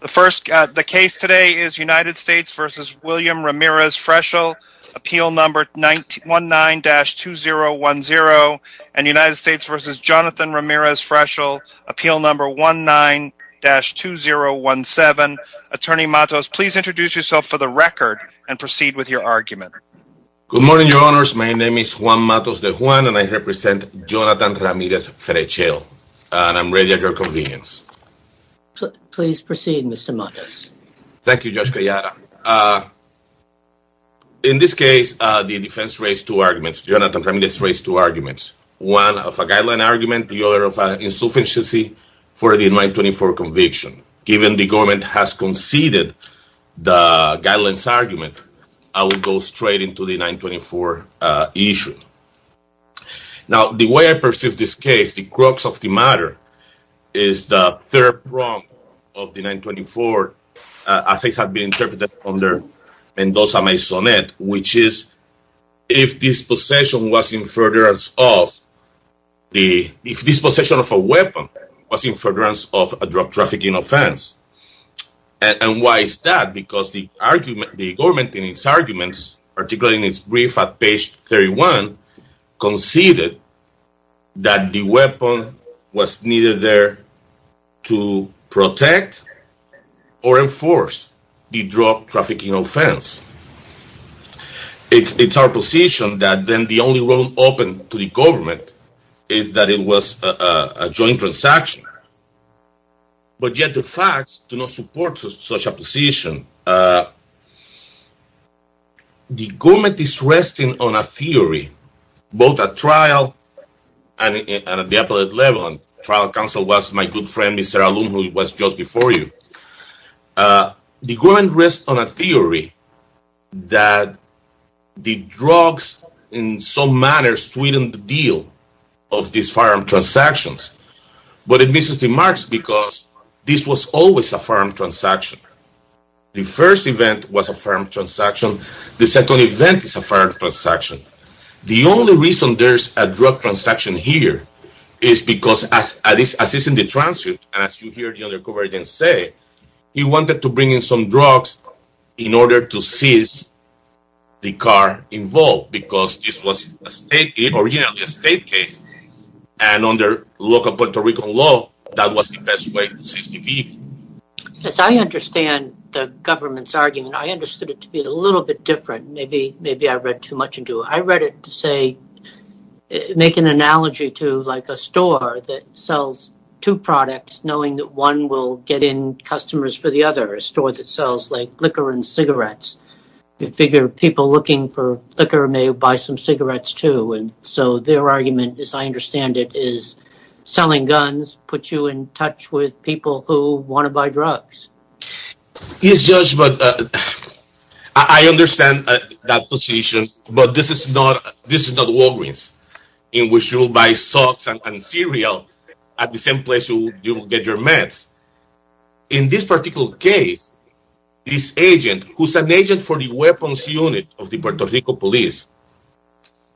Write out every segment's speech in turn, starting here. The case today is United States v. William Ramirez-Frechel, Appeal No. 19-2010 and United States v. Jonathan Ramirez-Frechel, Appeal No. 19-2017 Attorney Matos, please introduce yourself for the record and proceed with your argument Good morning, Your Honors. My name is Juan Matos de Juan and I represent Jonathan Ramirez-Frechel and I'm ready at your convenience Please proceed, Mr. Matos Thank you, Judge Gallardo In this case, the defense raised two arguments. Jonathan Ramirez raised two arguments One of a guideline argument, the other of insufficiency for the 924 conviction Given the government has conceded the guidelines argument, I will go straight into the 924 issue Now, the way I perceive this case, the crux of the matter is the third prong of the 924 as it has been interpreted under Mendoza-Maisonnet, which is if this possession was in furtherance of if this possession of a weapon was in furtherance of a drug trafficking offense And why is that? Because the government in its arguments, particularly in its brief at page 31 conceded that the weapon was neither there to protect or enforce the drug trafficking offense It's our position that then the only road open to the government is that it was a joint transaction But yet the facts do not support such a position The government is resting on a theory, both at trial and at the appellate level and trial counsel was my good friend, Mr. Aloum, who was just before you The government rests on a theory that the drugs in some manner sweetened the deal of these firearm transactions But it misses the marks because this was always a firearm transaction The first event was a firearm transaction, the second event is a firearm transaction The only reason there's a drug transaction here is because as is in the transcript as you hear the other coverage say, he wanted to bring in some drugs in order to seize the car involved because this was originally a state case and under local Puerto Rican law, that was the best way to seize the vehicle As I understand the government's argument, I understood it to be a little bit different Maybe I read too much into it I read it to make an analogy to a store that sells two products knowing that one will get in customers for the other A store that sells liquor and cigarettes You figure people looking for liquor may buy some cigarettes too So their argument, as I understand it, is selling guns puts you in touch with people who want to buy drugs Yes, Judge, but I understand that position But this is not Walgreens, in which you will buy socks and cereal at the same place you get your meds In this particular case, this agent, who's an agent for the weapons unit of the Puerto Rico police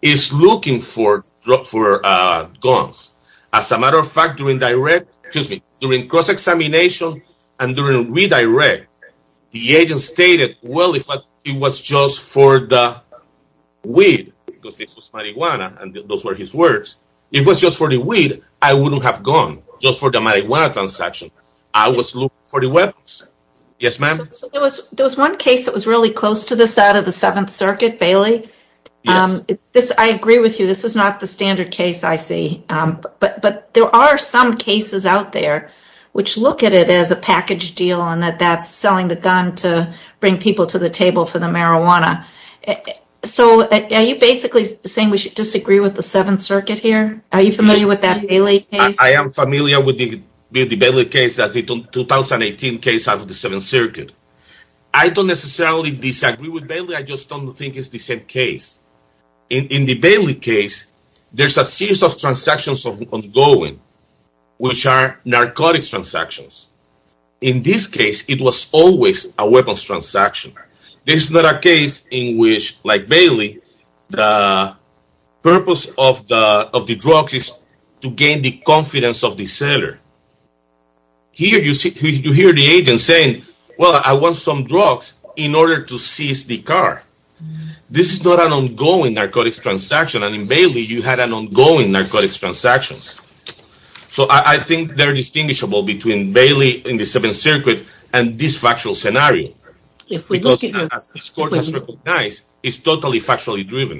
is looking for guns As a matter of fact, during cross-examination and during redirect the agent stated, well, if it was just for the weed because this was marijuana and those were his words If it was just for the weed, I wouldn't have gone Just for the marijuana transaction, I was looking for the weapons Yes, ma'am There was one case that was really close to this out of the Seventh Circuit, Bailey I agree with you, this is not the standard case I see But there are some cases out there which look at it as a package deal and that that's selling the gun to bring people to the table for the marijuana So, are you basically saying we should disagree with the Seventh Circuit here? Are you familiar with that Bailey case? I am familiar with the Bailey case, the 2018 case out of the Seventh Circuit I don't necessarily disagree with Bailey, I just don't think it's the same case In the Bailey case, there's a series of transactions ongoing which are narcotics transactions In this case, it was always a weapons transaction This is not a case in which, like Bailey, the purpose of the drugs is to gain the confidence of the seller Here, you hear the agent saying, well, I want some drugs in order to seize the car This is not an ongoing narcotics transaction and in Bailey, you had an ongoing narcotics transaction So, I think they're distinguishable between Bailey in the Seventh Circuit and this factual scenario Because, as the court has recognized, it's totally factually driven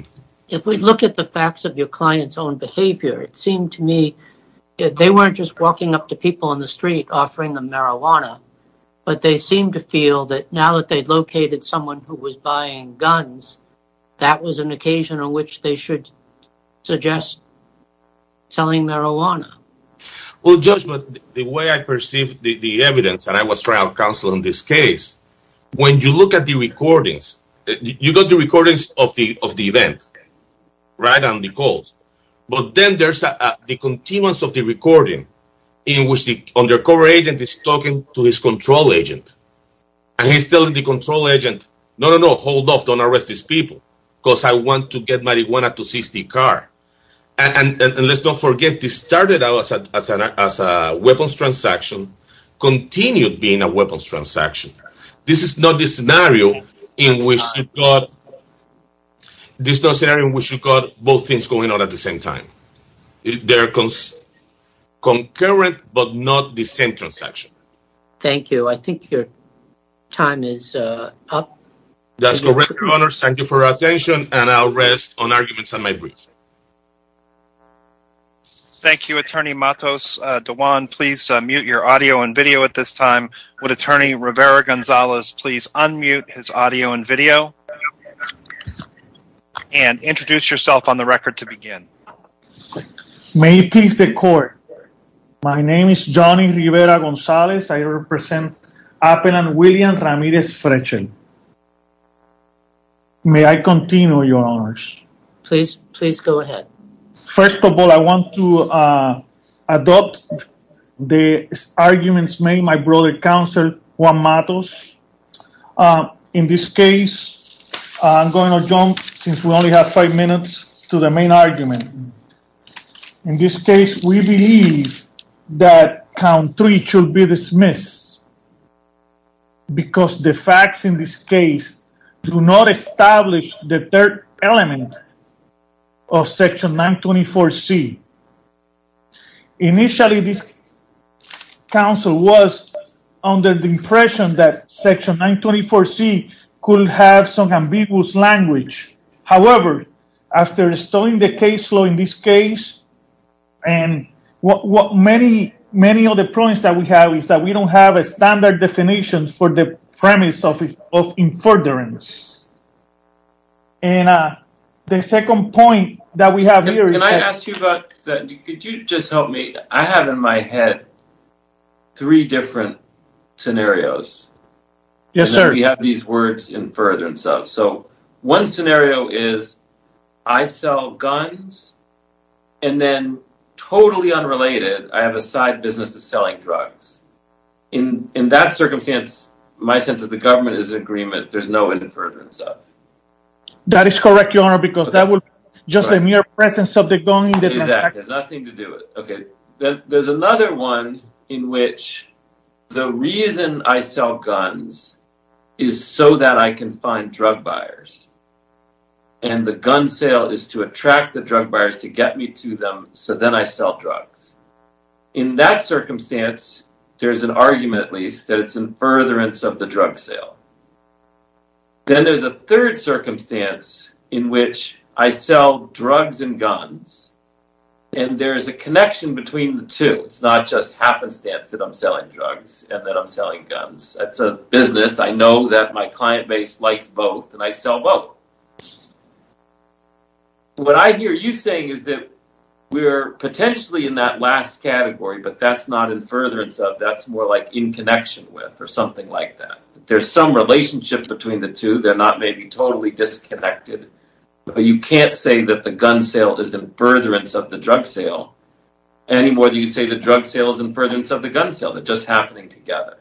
If we look at the facts of your client's own behavior, it seemed to me that they weren't just walking up to people on the street offering them marijuana but they seemed to feel that now that they've located someone who was buying guns that was an occasion on which they should suggest selling marijuana Well, Judge, the way I perceive the evidence, and I was trial counsel in this case when you look at the recordings, you got the recordings of the event right on the calls but then there's the continuance of the recording in which the undercover agent is talking to his control agent and he's telling the control agent, no, no, no, hold off, don't arrest these people because I want to get marijuana to seize the car And let's not forget, this started out as a weapons transaction continued being a weapons transaction This is not the scenario in which you got both things going on at the same time They're concurrent, but not the same transaction Thank you, I think your time is up That's correct, Your Honor, thank you for your attention and I'll rest on arguments on my brief Thank you, Attorney Matos Diwan, please mute your audio and video at this time Would Attorney Rivera-Gonzalez please unmute his audio and video and introduce yourself on the record to begin May it please the court My name is Johnny Rivera-Gonzalez I represent Appel and William Ramirez Frechel May I continue, Your Honors? Please, please go ahead First of all, I want to adopt the arguments made by my brother, Counselor Juan Matos In this case, I'm going to jump, since we only have five minutes, to the main argument In this case, we believe that count three should be dismissed because the facts in this case do not establish the third element of section 924C Initially, this counsel was under the impression that section 924C could have some ambiguous language However, after studying the case law in this case and many other points that we have is that we don't have a standard definition for the premise of infurderance and the second point that we have here is that Can I ask you about that? Could you just help me? I have in my head three different scenarios Yes, sir and we have these words, infurderance of So, one scenario is, I sell guns and then, totally unrelated, I have a side business of selling drugs In that circumstance, my sense of the government is in agreement There's no infurderance of That is correct, Your Honor, because that would be just a mere presence of the gun Exactly, there's nothing to do with it There's another one in which the reason I sell guns is so that I can find drug buyers and the gun sale is to attract the drug buyers to get me to them so then I sell drugs In that circumstance, there's an argument, at least, that it's an infurderance of the drug sale Then there's a third circumstance in which I sell drugs and guns and there's a connection between the two It's not just happenstance that I'm selling drugs and that I'm selling guns It's a business, I know that my client base likes both, and I sell both What I hear you saying is that we're potentially in that last category but that's not infurderance of, that's more like in connection with, or something like that There's some relationship between the two, they're not maybe totally disconnected but you can't say that the gun sale is an infurderance of the drug sale any more than you can say the drug sale is an infurderance of the gun sale They're just happening together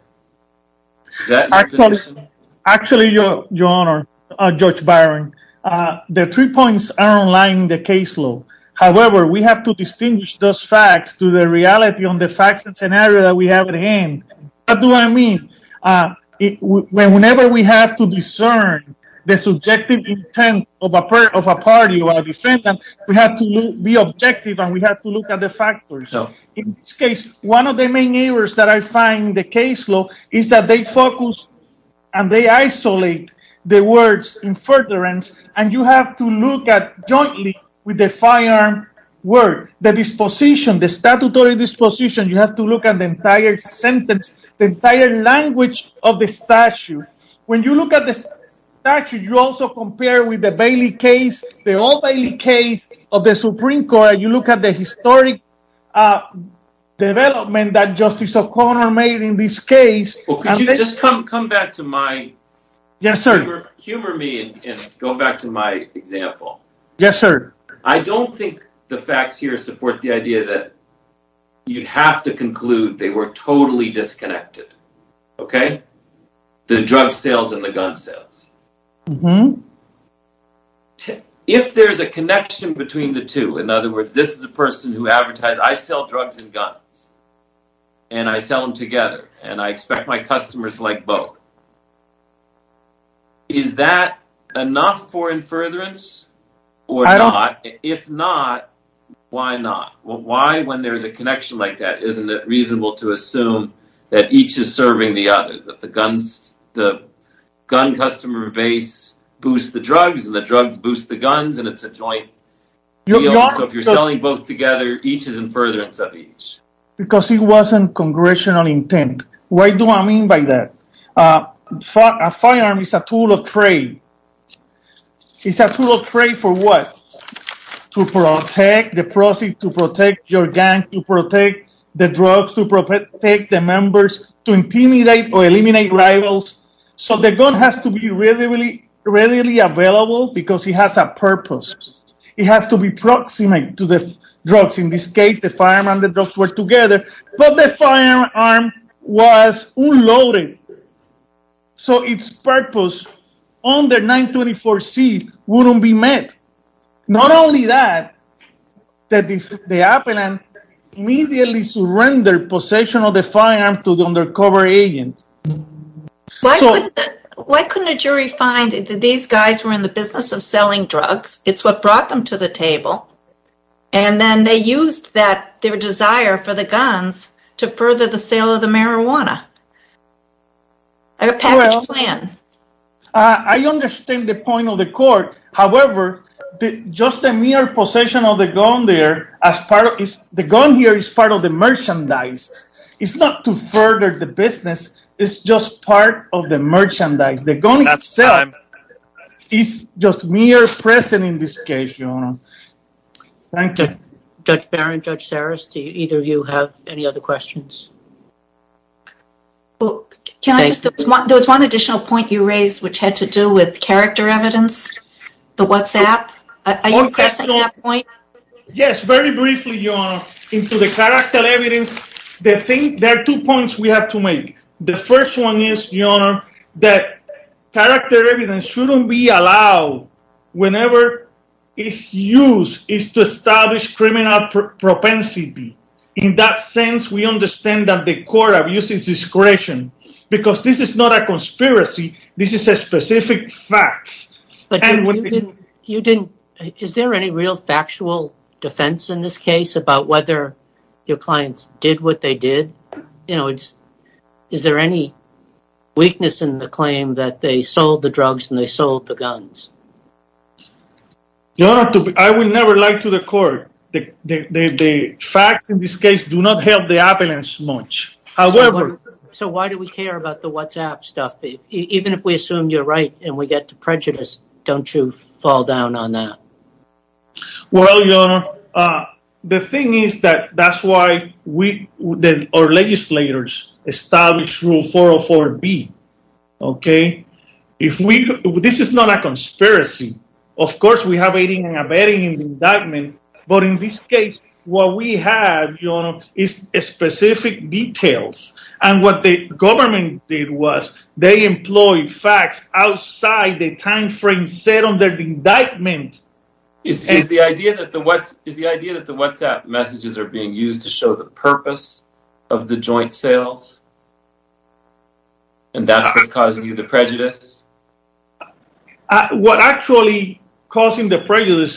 Is that your position? Actually, Your Honor, Judge Byron, the three points are in line with the case law However, we have to distinguish those facts to the reality on the facts and scenario that we have at hand What do I mean? Whenever we have to discern the subjective intent of a party or a defendant we have to be objective and we have to look at the factors In this case, one of the main errors that I find in the case law is that they focus and they isolate the words infurderance and you have to look at jointly with the firearm word the disposition, the statutory disposition, you have to look at the entire sentence the entire language of the statute When you look at the statute, you also compare with the Bailey case the old Bailey case of the Supreme Court and you look at the historic development that Justice O'Connor made in this case Could you just come back to my... Yes, sir Humor me and go back to my example Yes, sir I don't think the facts here support the idea that you have to conclude they were totally disconnected Okay? The drug sales and the gun sales Uh-huh If there's a connection between the two In other words, this is a person who advertised I sell drugs and guns and I sell them together and I expect my customers to like both Is that enough for infurderance? Or not? If not, why not? Why when there's a connection like that isn't it reasonable to assume that each is serving the other? That the gun customer base boosts the drugs and the drugs boost the guns and it's a joint deal So if you're selling both together, each is infurderance of each Because it wasn't congressional intent What do I mean by that? A firearm is a tool of trade It's a tool of trade for what? To protect the proceeds, to protect your gang to protect the drugs, to protect the members to intimidate or eliminate rivals So the gun has to be readily available because it has a purpose It has to be proximate to the drugs In this case, the firearm and the drugs were together But the firearm was unloaded So its purpose on the 924C wouldn't be met Not only that, the appellant immediately surrendered possession of the firearm to the undercover agent Why couldn't a jury find that these guys were in the business of selling drugs? It's what brought them to the table And then they used their desire for the guns to further the sale of the marijuana A package plan I understand the point of the court However, just the mere possession of the gun there The gun here is part of the merchandise It's not to further the business It's just part of the merchandise The gun itself is just mere present in this case, Your Honor Thank you Judge Barron, Judge Saras, do either of you have any other questions? There was one additional point you raised which had to do with character evidence The WhatsApp Are you pressing that point? Yes, very briefly, Your Honor In the character evidence There are two points we have to make The first one is, Your Honor that character evidence shouldn't be allowed whenever its use is to establish criminal propensity In that sense, we understand that the court abuses discretion Because this is not a conspiracy This is a specific fact But you didn't Is there any real factual defense in this case about whether your clients did what they did? You know, is there any weakness in the claim that they sold the drugs and they sold the guns? Your Honor, I would never lie to the court The facts in this case do not help the evidence much So why do we care about the WhatsApp stuff? Even if we assume you're right and we get to prejudice don't you fall down on that? Well, Your Honor The thing is that that's why our legislators established Rule 404B Okay? This is not a conspiracy Of course we have aiding and abetting in the indictment But in this case, what we have, Your Honor is specific details And what the government did was they employed facts outside the time frame set under the indictment Is the idea that the WhatsApp messages are being used to show the purpose of the joint sales? And that's what's causing you the prejudice? What's actually causing the prejudice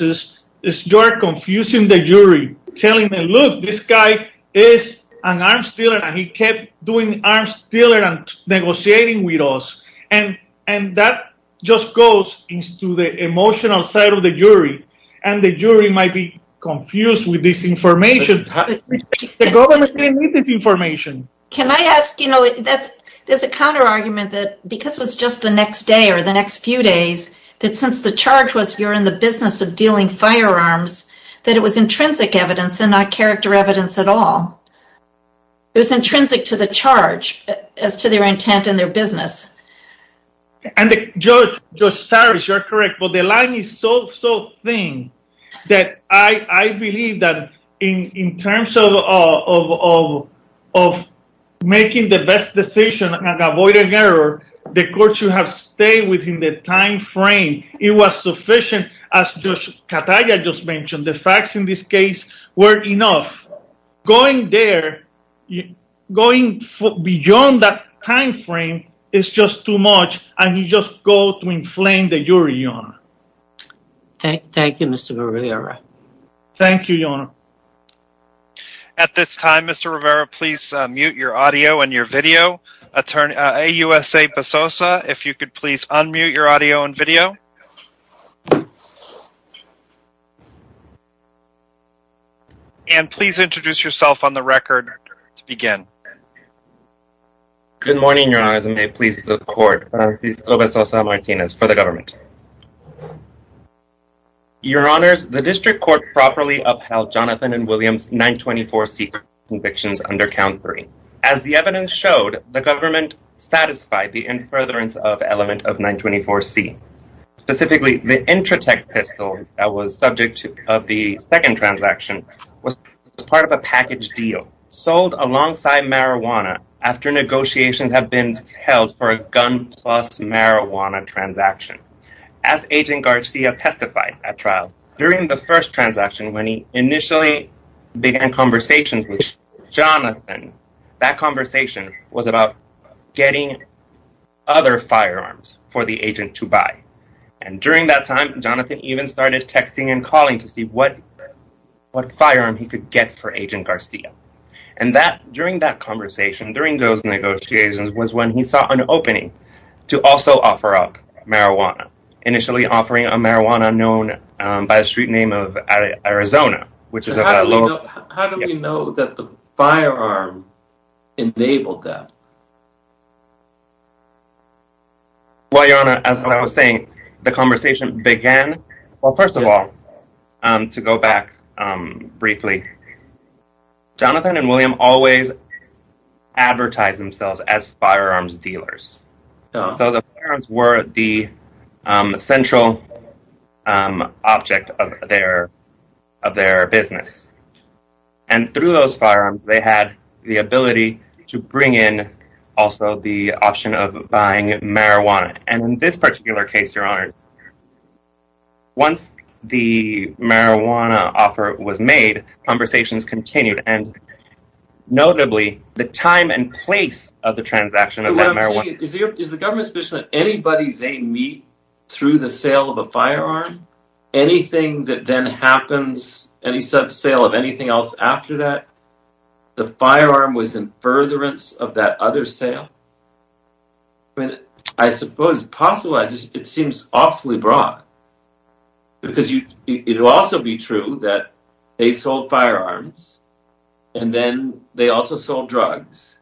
is you're confusing the jury telling them, look, this guy is an arms dealer and he kept doing arms dealers and negotiating with us And that just goes to the emotional side of the jury And the jury might be confused with this information The government didn't need this information Can I ask, you know, there's a counter argument that because it was just the next day or the next few days that since the charge was you're in the business of dealing firearms that it was intrinsic evidence and not character evidence at all It was intrinsic to the charge as to their intent and their business And Judge Cyrus, you're correct But the line is so, so thin that I believe that in terms of making the best decision and avoiding error the court should have stayed within the time frame It was sufficient, as Judge Cataya just mentioned The facts in this case were enough Going there, going beyond that time frame is just too much And you just go to inflame the jury, Your Honor Thank you, Mr. Rivera Thank you, Your Honor At this time, Mr. Rivera, please mute your audio and your video AUSA Besosa, if you could please unmute your audio and video And please introduce yourself on the record to begin Good morning, Your Honors, and may it please the court Francisco Besosa Martinez for the government Your Honors, the district court properly upheld Jonathan and William's 924C convictions under Count 3 As the evidence showed, the government satisfied the infertile element of 924C Specifically, the Intratec pistol that was subject to the second transaction was part of a package deal sold alongside marijuana after negotiations have been held for a gun-plus-marijuana transaction As Agent Garcia testified at trial during the first transaction, when he initially began conversations with Jonathan that conversation was about getting other firearms for the agent to buy And during that time, Jonathan even started texting and calling to see what firearm he could get for Agent Garcia And during that conversation, during those negotiations was when he saw an opening to also offer up marijuana, initially offering a marijuana known by the street name of Arizona How do we know that the firearm enabled that? Well, Your Honor, as I was saying the conversation began Well, first of all, to go back briefly Jonathan and William always advertised themselves as firearms dealers So the firearms were the central object of their business And through those firearms, they had the ability to bring in also the option of buying marijuana, and in this particular case Your Honor, once the marijuana offer was made the conversations continued Notably, the time and place of the transaction Is the government's position that anybody they meet through the sale of a firearm anything that then happens any such sale of anything else after that the firearm was in furtherance of that other sale I suppose it seems awfully broad Because it would also be true that they sold firearms and then they also sold drugs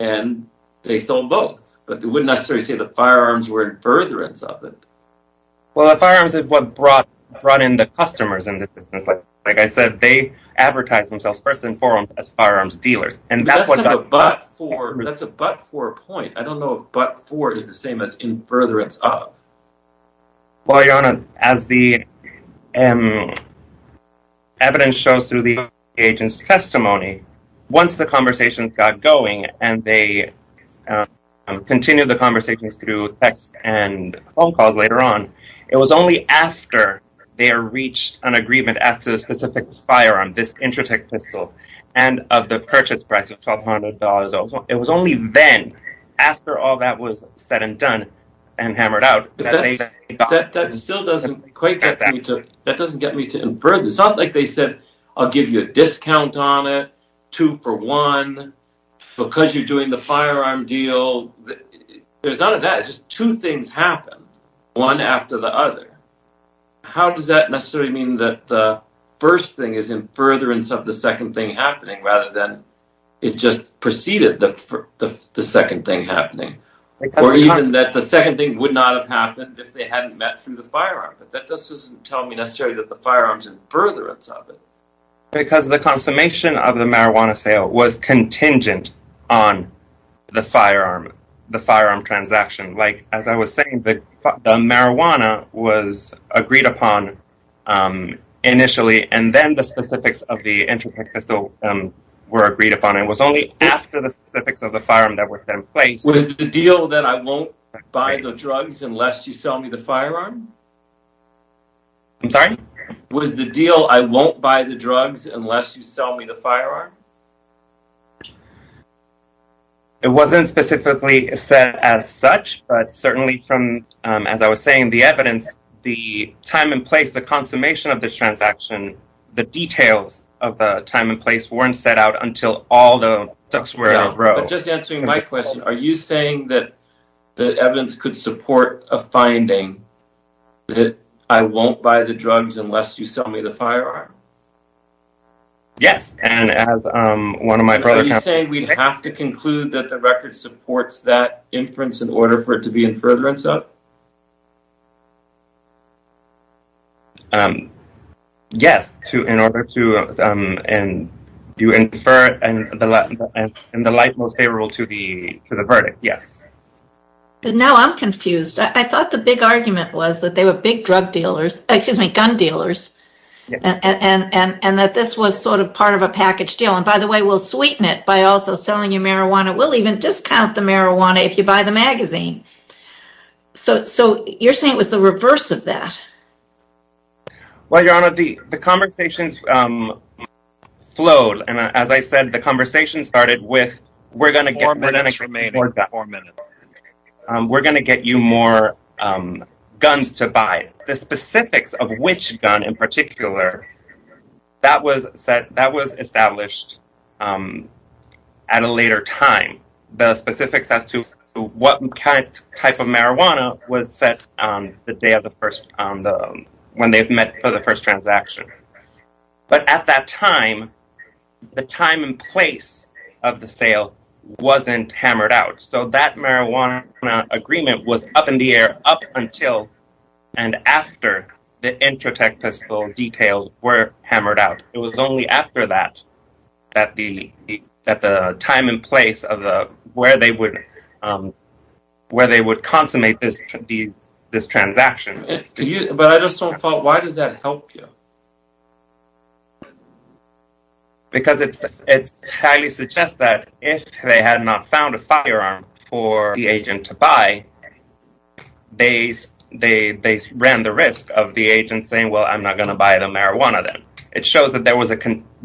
and they sold both but it wouldn't necessarily say the firearms were in furtherance of it Well, the firearms are what brought in the customers Like I said, they advertised themselves first and foremost as firearms dealers That's a but-for point I don't know if but-for is the same as in furtherance of Well, Your Honor, as the evidence shows through the agent's testimony Once the conversations got going and they continued the conversations through text and phone calls later on It was only after they reached an agreement as to the specific firearm, this Intratec pistol and of the purchase price of $1,200 It was only then, after all that was said and done and hammered out That doesn't get me to infer It's not like they said, I'll give you a discount on it two for one because you're doing the firearm deal There's none of that, it's just two things happen one after the other How does that necessarily mean that the first thing is in furtherance of the second thing happening rather than it just preceded the second thing happening Or even that the second thing would not have happened if they hadn't met through the firearm That doesn't necessarily tell me that the firearm is in furtherance of it Because the consummation of the marijuana sale was contingent on the firearm transaction As I was saying, the marijuana was agreed upon initially and then the specifics of the Intratec pistol were agreed upon It was only after the specifics of the firearm were in place Was the deal that I won't buy the drugs unless you sell me the firearm? I'm sorry? Was the deal I won't buy the drugs unless you sell me the firearm? It wasn't specifically said as such but certainly from, as I was saying, the evidence the time and place, the consummation of this transaction the details of the time and place weren't set out until all the drugs were in a row Just answering my question, are you saying that the evidence could support a finding that I won't buy the drugs unless you sell me the firearm? Yes Are you saying we'd have to conclude that the record supports that inference in order for it to be in furtherance of? Yes In order to infer in the light most favorable to the verdict, yes Now I'm confused. I thought the big argument was that they were big gun dealers and that this was sort of part of a packaged deal By the way, we'll sweeten it by also selling you marijuana We'll even discount the marijuana if you buy the magazine So you're saying it was the reverse of that? Well, Your Honor, the conversations flowed and as I said, the conversation started with we're going to get more guns to buy We're going to get you more guns to buy The specifics of which gun in particular that was established at a later time The specifics as to what type of marijuana was set on the day of the first when they met for the first transaction But at that time the time and place of the sale wasn't hammered out So that marijuana agreement was up in the air up until and after the Intratec pistol details were hammered out It was only after that that the time and place where they would consummate this transaction Why does that help you? Because it highly suggests that if they had not found a firearm for the agent to buy they ran the risk of the agent saying, well, I'm not going to buy the marijuana then It shows that there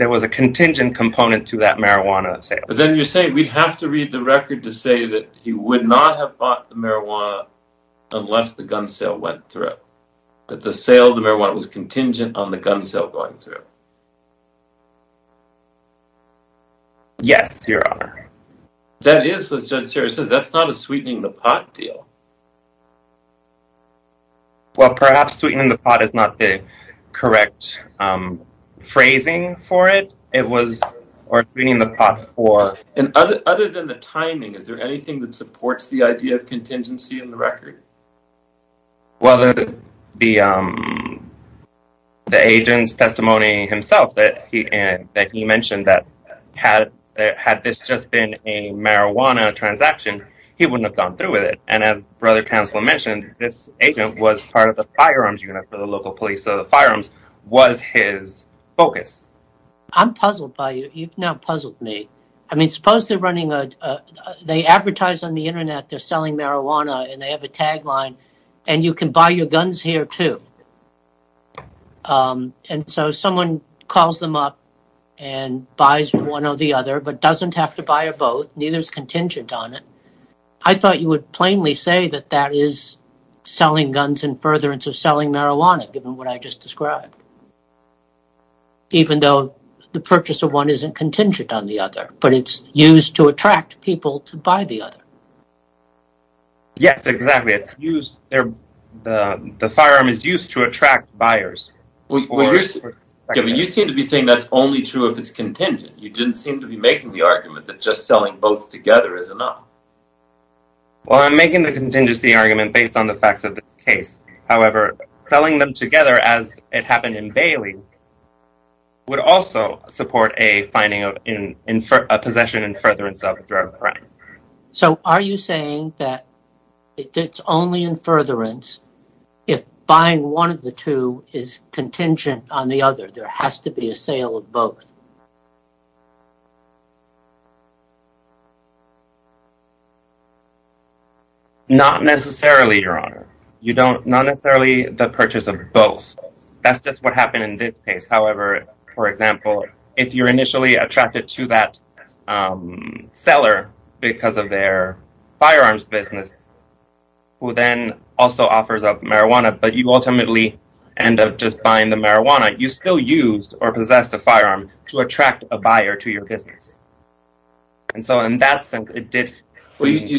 was a contingent component to that marijuana sale But then you're saying we'd have to read the record to say that he would not have bought the marijuana unless the gun sale went through That the sale of the marijuana was contingent on the gun sale going through Yes, Your Honor That's not a sweetening the pot deal Well, perhaps sweetening the pot is not the correct phrasing for it Other than the timing is there anything that supports the idea of contingency in the record? The agent's testimony himself that he mentioned that had this just been a marijuana transaction he wouldn't have gone through with it And as Brother Counselor mentioned this agent was part of the firearms unit for the local police So the firearms was his focus I'm puzzled by you You've now puzzled me They advertise on the internet they're selling marijuana and they have a tagline And you can buy your guns here too And so someone calls them up and buys one or the other but doesn't have to buy both, neither is contingent on it I thought you would plainly say that that is selling guns in furtherance of selling marijuana given what I just described Even though the purchase of one isn't contingent on the other but it's used to attract people to buy the other Yes, exactly The firearm is used to attract buyers You seem to be saying that's only true if it's contingent You didn't seem to be making the argument that just selling both together is enough Well, I'm making the contingency argument based on the facts of this case However, selling them together as it happened in Bailey would also support a possession in furtherance of drug crime So are you saying that it's only in furtherance if buying one of the two is contingent on the other There has to be a sale of both Not necessarily, Your Honor Not necessarily the purchase of both That's just what happened in this case However, for example, if you're initially attracted to that seller because of their firearms business who then also offers up marijuana but you ultimately end up just buying the marijuana you still used or possessed a firearm to attract a buyer to your business You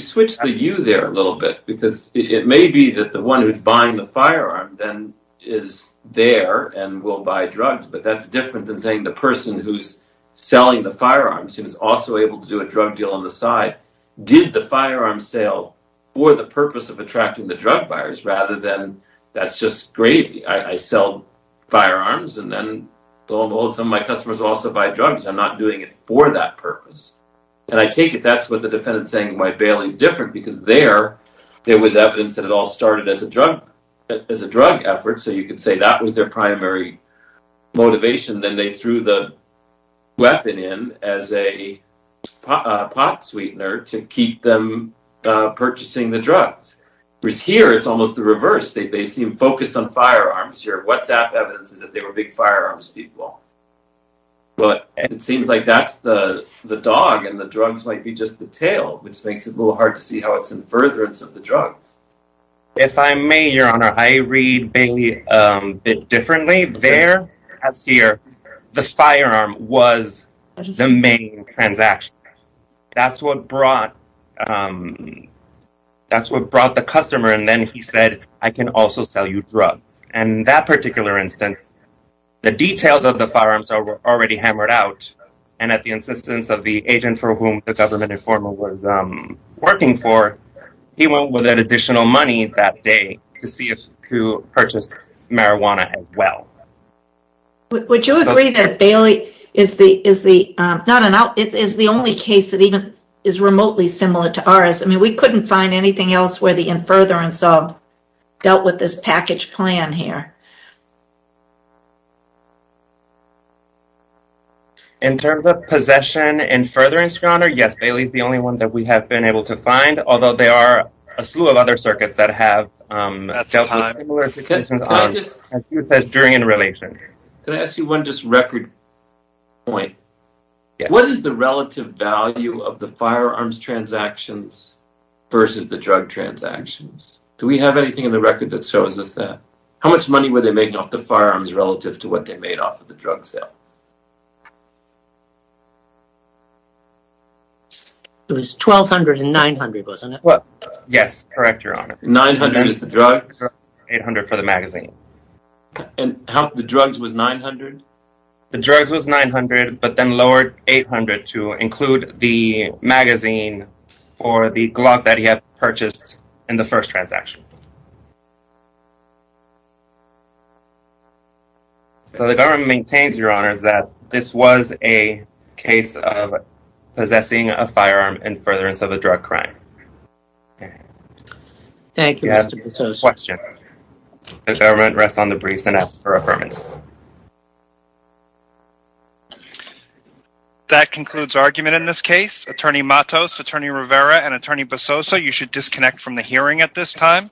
switched the you there a little bit because it may be that the one who's buying the firearm is there and will buy drugs But that's different than saying the person who's selling the firearms who's also able to do a drug deal on the side did the firearm sale for the purpose of attracting the drug buyers rather than that's just gravy I sell firearms and then some of my customers also buy drugs I'm not doing it for that purpose And I take it that's what the defendant's saying in why Bailey's different because there, there was evidence that it all started as a drug effort so you could say that was their primary motivation then they threw the weapon in as a pot sweetener to keep them purchasing the drugs Whereas here it's almost the reverse They seem focused on firearms Your WhatsApp evidence is that they were big firearms people But it seems like that's the dog and the drugs might be just the tail which makes it a little hard to see how it's in furtherance of the drugs If I may, Your Honor, I read Bailey a bit differently There, as here, the firearm was the main transaction That's what brought That's what brought the customer and then he said, I can also sell you drugs And that particular instance, the details of the firearms were already hammered out and at the insistence of the agent for whom the government informer was working for he went with that additional money that day to purchase marijuana as well Would you agree that Bailey is the only case that even is remotely similar to ours? I mean, we couldn't find anything else where the in furtherance of dealt with this package plan here In terms of possession and furtherance, Your Honor Yes, Bailey is the only one that we have been able to find although there are a slew of other circuits that have dealt with similar situations Can I ask you one just record point What is the relative value of the firearms transactions versus the drug transactions? Do we have anything in the record that shows us that? How much money were they making off the firearms relative to what they made off of the drug sale? It was $1,200 and $900, wasn't it? Yes, correct, Your Honor $900 for the drugs and $800 for the magazine The drugs was $900? The drugs was $900 but then lowered $800 to include the magazine for the Glock that he had purchased in the first transaction So the government maintains, Your Honor that this was a case of possessing a firearm in furtherance of a drug crime Thank you, Mr. Bososo That concludes argument in this case Attorney Matos, Attorney Rivera, and Attorney Bososo you should disconnect from the hearing at this time